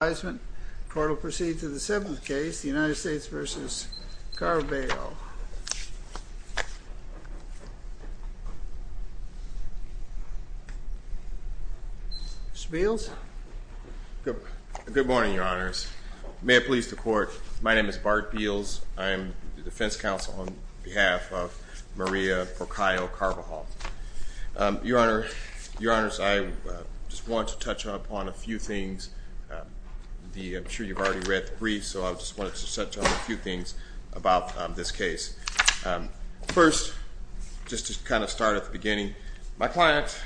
The court will proceed to the seventh case, the United States v. Carbajal. Mr. Beals? Good morning, your honors. May it please the court, my name is Bart Beals. I am the defense counsel on behalf of Maria Porcayo Carbajal. Your honors, I just want to touch upon a few things. I'm sure you've already read the brief, so I just wanted to touch on a few things about this case. First, just to kind of start at the beginning, my client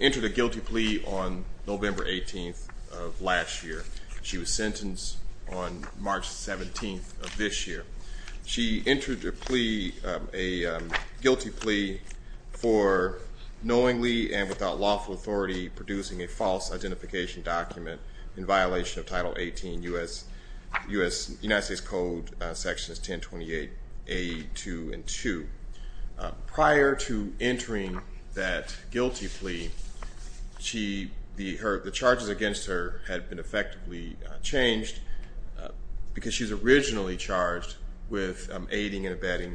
entered a guilty plea on November 18th of last year. She was sentenced on March 17th of this year. She entered a guilty plea for knowingly and without lawful authority producing a false identification document in violation of Title 18 U.S. United States Code Sections 1028A2 and 2. Prior to entering that guilty plea, the charges against her had been effectively changed because she was originally charged with aiding and abetting.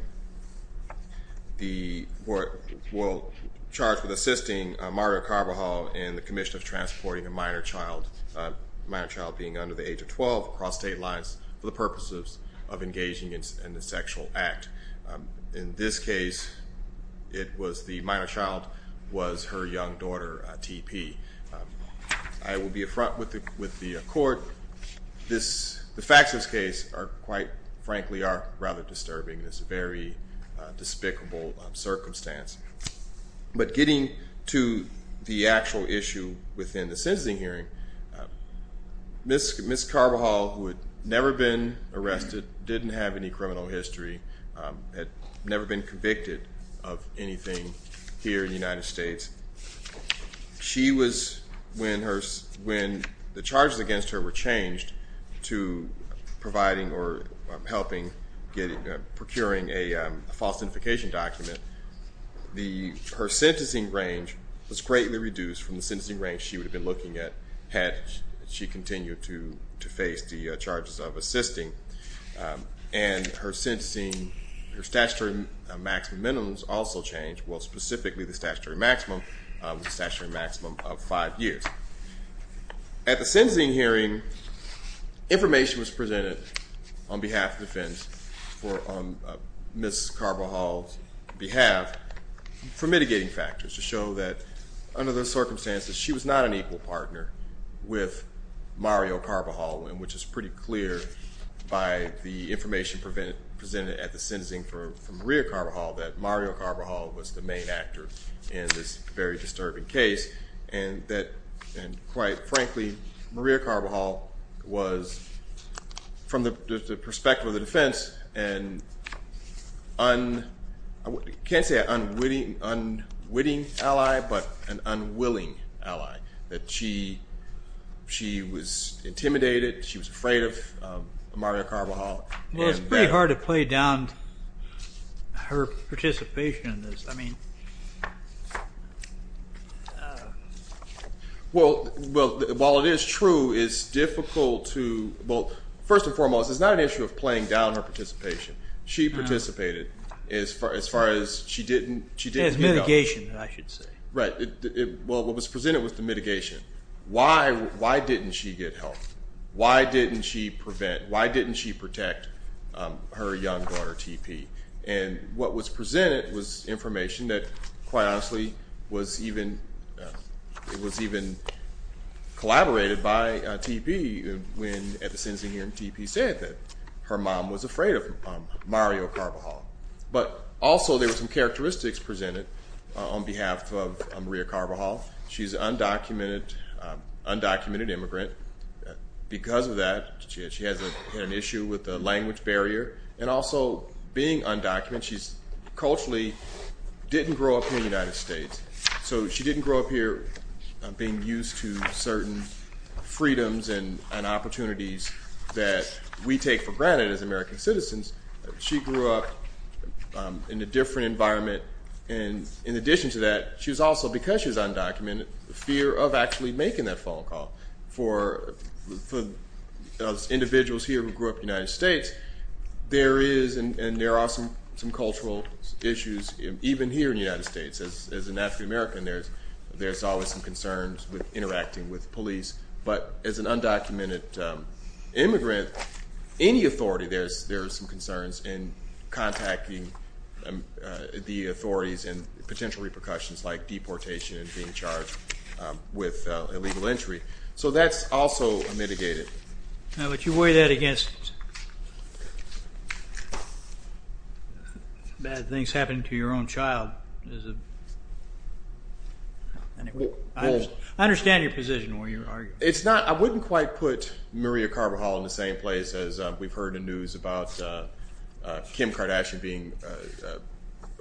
The court will charge with assisting Maria Carbajal in the commission of transporting a minor child, a minor child being under the age of 12, across state lines for the purposes of engaging in a sexual act. In this case, it was the minor child was her young daughter, TP. I will be a front with the court. The facts of this case are quite frankly are rather disturbing. It's a very despicable circumstance. But getting to the actual issue within the sentencing hearing, Ms. Carbajal, who had never been arrested, didn't have any criminal history, had never been convicted of anything here in the United States. She was, when the charges against her were changed to providing or helping, procuring a false identification document, her sentencing range was greatly reduced from the sentencing range she would have been looking at had she continued to face the charges of assisting. And her sentencing, her statutory maximum minimums also changed. Well, specifically, the statutory maximum was a statutory maximum of five years. At the sentencing hearing, information was presented on behalf of defense for Ms. Carbajal's behalf for mitigating factors to show that under those circumstances, she was not an equal partner with Mario Carbajal, which is pretty clear by the information presented at the sentencing for Maria Carbajal that Mario Carbajal was the main actor in this very disturbing case. And quite frankly, Maria Carbajal was, from the perspective of the defense, an unwitting ally, but an unwilling ally. That she was intimidated, she was afraid of Mario Carbajal. Well, it's pretty hard to play down her participation in this. Well, while it is true, it's difficult to, well, first and foremost, it's not an issue of playing down her participation. She participated as far as she didn't… As mitigation, I should say. Right. Well, what was presented was the mitigation. Why didn't she get help? Why didn't she prevent? Why didn't she protect her young daughter, T.P.? And what was presented was information that, quite honestly, was even collaborated by T.P. when at the sentencing hearing, T.P. said that her mom was afraid of Mario Carbajal. But also, there were some characteristics presented on behalf of Maria Carbajal. She's an undocumented immigrant. Because of that, she has an issue with the language barrier. And also, being undocumented, she's culturally didn't grow up in the United States. So she didn't grow up here being used to certain freedoms and opportunities that we take for granted as American citizens. She grew up in a different environment. And in addition to that, she was also, because she was undocumented, fear of actually making that phone call. For individuals here who grew up in the United States, there is and there are some cultural issues even here in the United States. As an African American, there's always some concerns with interacting with police. But as an undocumented immigrant, any authority, there's some concerns in contacting the authorities and potential repercussions like deportation and being charged with illegal entry. So that's also mitigated. But you weigh that against bad things happening to your own child. I understand your position. I wouldn't quite put Maria Carbajal in the same place as we've heard in news about Kim Kardashian being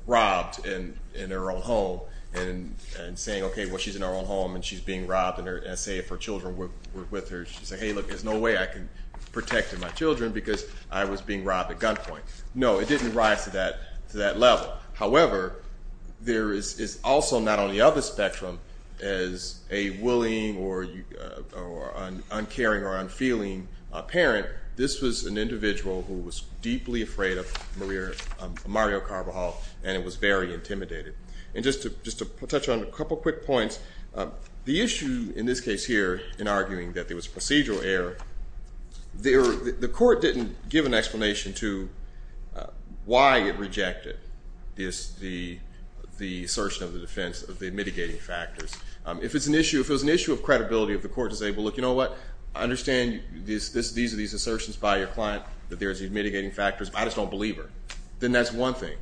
robbed in her own home and saying, OK, well, she's in her own home and she's being robbed. And say if her children were with her, she'd say, hey, look, there's no way I can protect my children because I was being robbed at gunpoint. No, it didn't rise to that level. However, there is also not on the other spectrum as a willing or uncaring or unfeeling parent, this was an individual who was deeply afraid of Maria Carbajal and was very intimidated. And just to touch on a couple quick points, the issue in this case here in arguing that there was procedural error, the court didn't give an explanation to why it rejected the assertion of the defense of the mitigating factors. If it was an issue of credibility of the court to say, well, look, you know what? I understand these are these assertions by your client that there is a mitigating factors. I just don't believe her. Then that's one thing.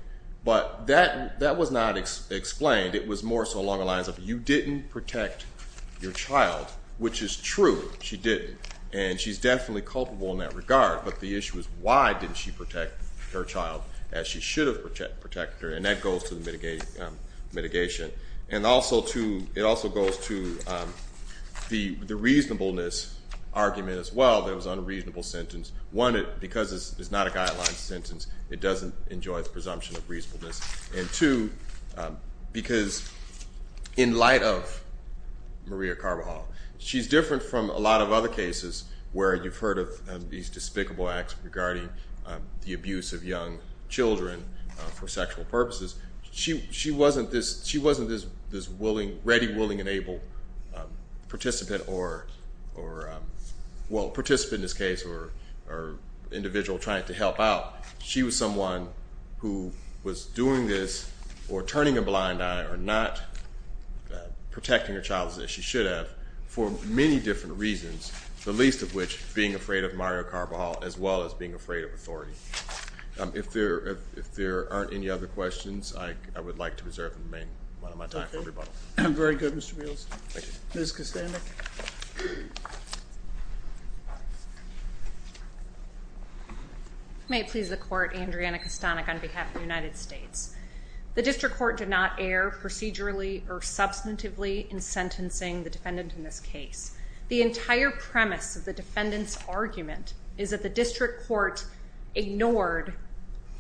But that was not explained. It was more so along the lines of you didn't protect your child, which is true. She didn't. And she's definitely culpable in that regard. But the issue is why didn't she protect her child as she should have protected her? And that goes to the mitigation. And it also goes to the reasonableness argument as well that it was an unreasonable sentence. One, because it's not a guideline sentence, it doesn't enjoy the presumption of reasonableness. And two, because in light of Maria Carbajal, she's different from a lot of other cases where you've heard of these despicable acts regarding the abuse of young children for sexual purposes. She wasn't this ready, willing, and able participant or, well, participant in this case or individual trying to help out. She was someone who was doing this or turning a blind eye or not protecting her child as she should have for many different reasons, the least of which being afraid of Maria Carbajal as well as being afraid of authority. If there aren't any other questions, I would like to reserve and remain one of my time for rebuttal. Okay. Very good, Mr. Beals. Thank you. Ms. Costanda? May it please the Court, Andriana Costanda on behalf of the United States. The district court did not err procedurally or substantively in sentencing the defendant in this case. The entire premise of the defendant's argument is that the district court ignored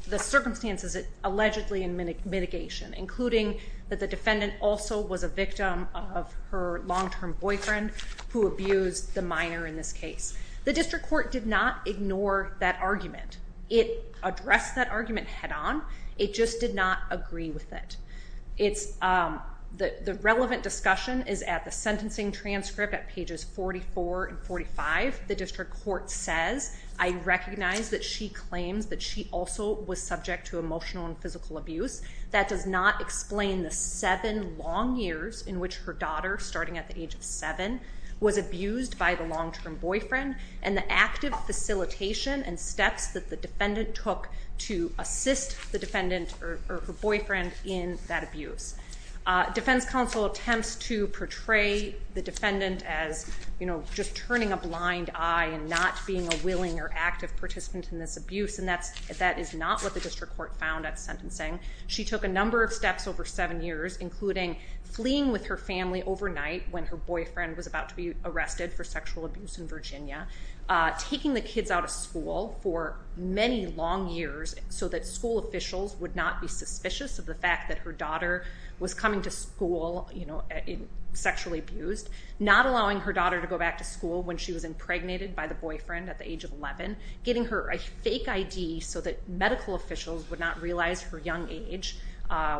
the circumstances allegedly in mitigation, including that the defendant also was a victim of her long-term boyfriend who abused the minor in this case. The district court did not ignore that argument. It addressed that argument head-on. It just did not agree with it. The relevant discussion is at the sentencing transcript at pages 44 and 45. The district court says, I recognize that she claims that she also was subject to emotional and physical abuse. That does not explain the seven long years in which her daughter, starting at the age of seven, was abused by the long-term boyfriend and the active facilitation and steps that the defendant took to assist the defendant or her boyfriend in that abuse. Defense counsel attempts to portray the defendant as, you know, just turning a blind eye and not being a willing or active participant in this abuse, and that is not what the district court found at sentencing. She took a number of steps over seven years, including fleeing with her family overnight when her boyfriend was about to be arrested for sexual abuse in Virginia, taking the kids out of school for many long years so that school officials would not be suspicious of the fact that her daughter was coming to school sexually abused, not allowing her daughter to go back to school when she was impregnated by the boyfriend at the age of 11, giving her a fake ID so that medical officials would not realize her young age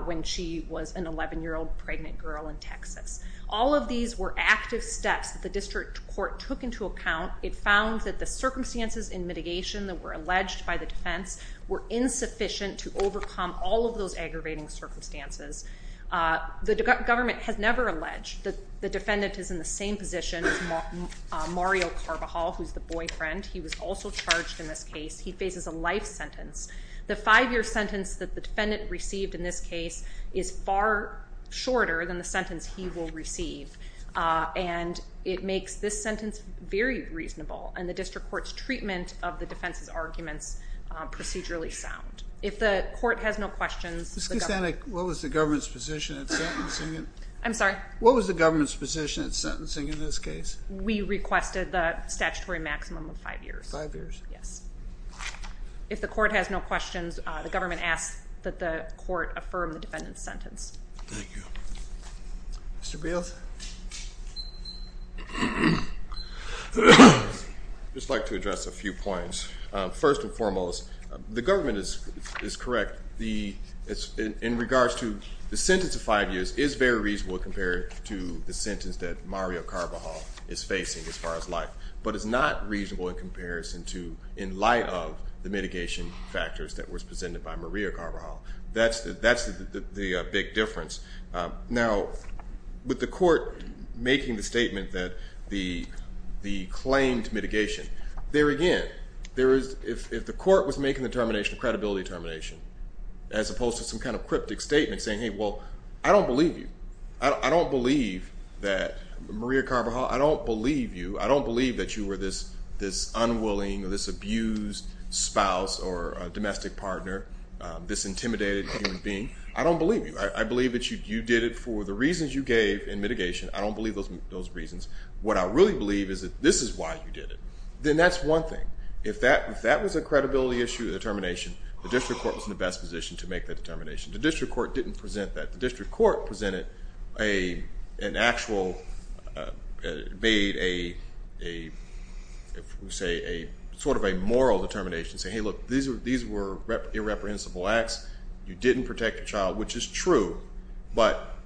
when she was an 11-year-old pregnant girl in Texas. All of these were active steps that the district court took into account. It found that the circumstances in mitigation that were alleged by the defense were insufficient to overcome all of those aggravating circumstances. The government has never alleged that the defendant is in the same position as Mario Carvajal, who's the boyfriend. He was also charged in this case. He faces a life sentence. The five-year sentence that the defendant received in this case is far shorter than the sentence he will receive, and it makes this sentence very reasonable and the district court's treatment of the defense's arguments procedurally sound. If the court has no questions, the government… Ms. Kucinich, what was the government's position at sentencing? I'm sorry? What was the government's position at sentencing in this case? We requested the statutory maximum of five years. Five years? Yes. If the court has no questions, the government asks that the court affirm the defendant's sentence. Thank you. Mr. Beals? I'd just like to address a few points. First and foremost, the government is correct. In regards to the sentence of five years, it is very reasonable compared to the sentence that Mario Carvajal is facing as far as life, but it's not reasonable in comparison to in light of the mitigation factors that was presented by Maria Carvajal. That's the big difference. Now, with the court making the statement that the claim to mitigation, there again, if the court was making the termination of credibility termination as opposed to some kind of cryptic statement saying, hey, well, I don't believe you. I don't believe that Maria Carvajal… I don't believe you. I don't believe that you were this unwilling or this abused spouse or a domestic partner, this intimidated human being. I don't believe you. I believe that you did it for the reasons you gave in mitigation. I don't believe those reasons. What I really believe is that this is why you did it. Then that's one thing. If that was a credibility issue, the termination, the district court was in the best position to make that determination. The district court didn't present that. The district court presented an actual, made a sort of a moral determination saying, hey, look, these were irreprehensible acts. You didn't protect a child, which is true, but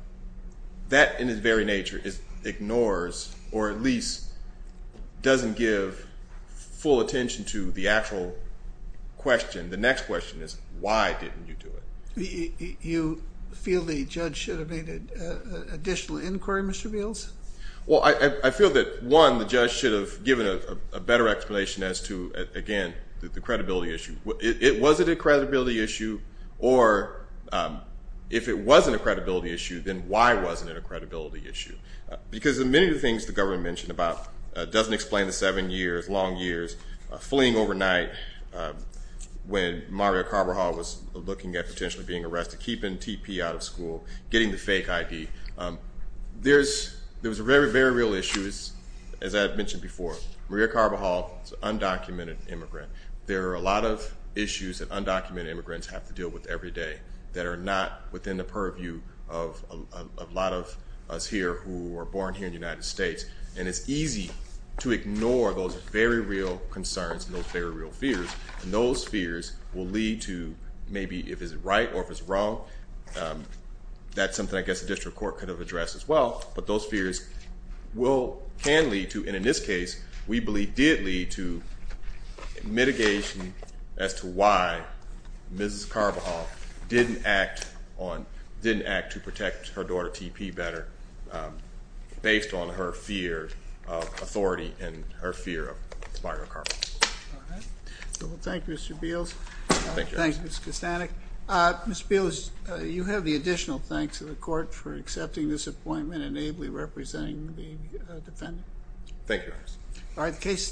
that in its very nature ignores or at least doesn't give full attention to the actual question. The next question is why didn't you do it? You feel the judge should have made an additional inquiry, Mr. Beals? Well, I feel that, one, the judge should have given a better explanation as to, again, the credibility issue. Was it a credibility issue? Or if it wasn't a credibility issue, then why wasn't it a credibility issue? Because many of the things the government mentioned about doesn't explain the seven years, long years, fleeing overnight when Maria Carbajal was looking at potentially being arrested, keeping TP out of school, getting the fake ID. There was a very, very real issue, as I had mentioned before. Maria Carbajal is an undocumented immigrant. There are a lot of issues that undocumented immigrants have to deal with every day that are not within the purview of a lot of us here who were born here in the United States. And it's easy to ignore those very real concerns and those very real fears. And those fears will lead to maybe if it's right or if it's wrong. That's something I guess the district court could have addressed as well. But those fears can lead to, and in this case, we believe did lead to mitigation as to why Mrs. Carbajal didn't act to protect her daughter, TP, better based on her fear of authority and her fear of Mario Carbajal. All right. Well, thank you, Mr. Beals. Thank you. Thank you, Mr. Kostanek. All right. Mr. Beals, you have the additional thanks of the court for accepting this appointment and ably representing the defendant.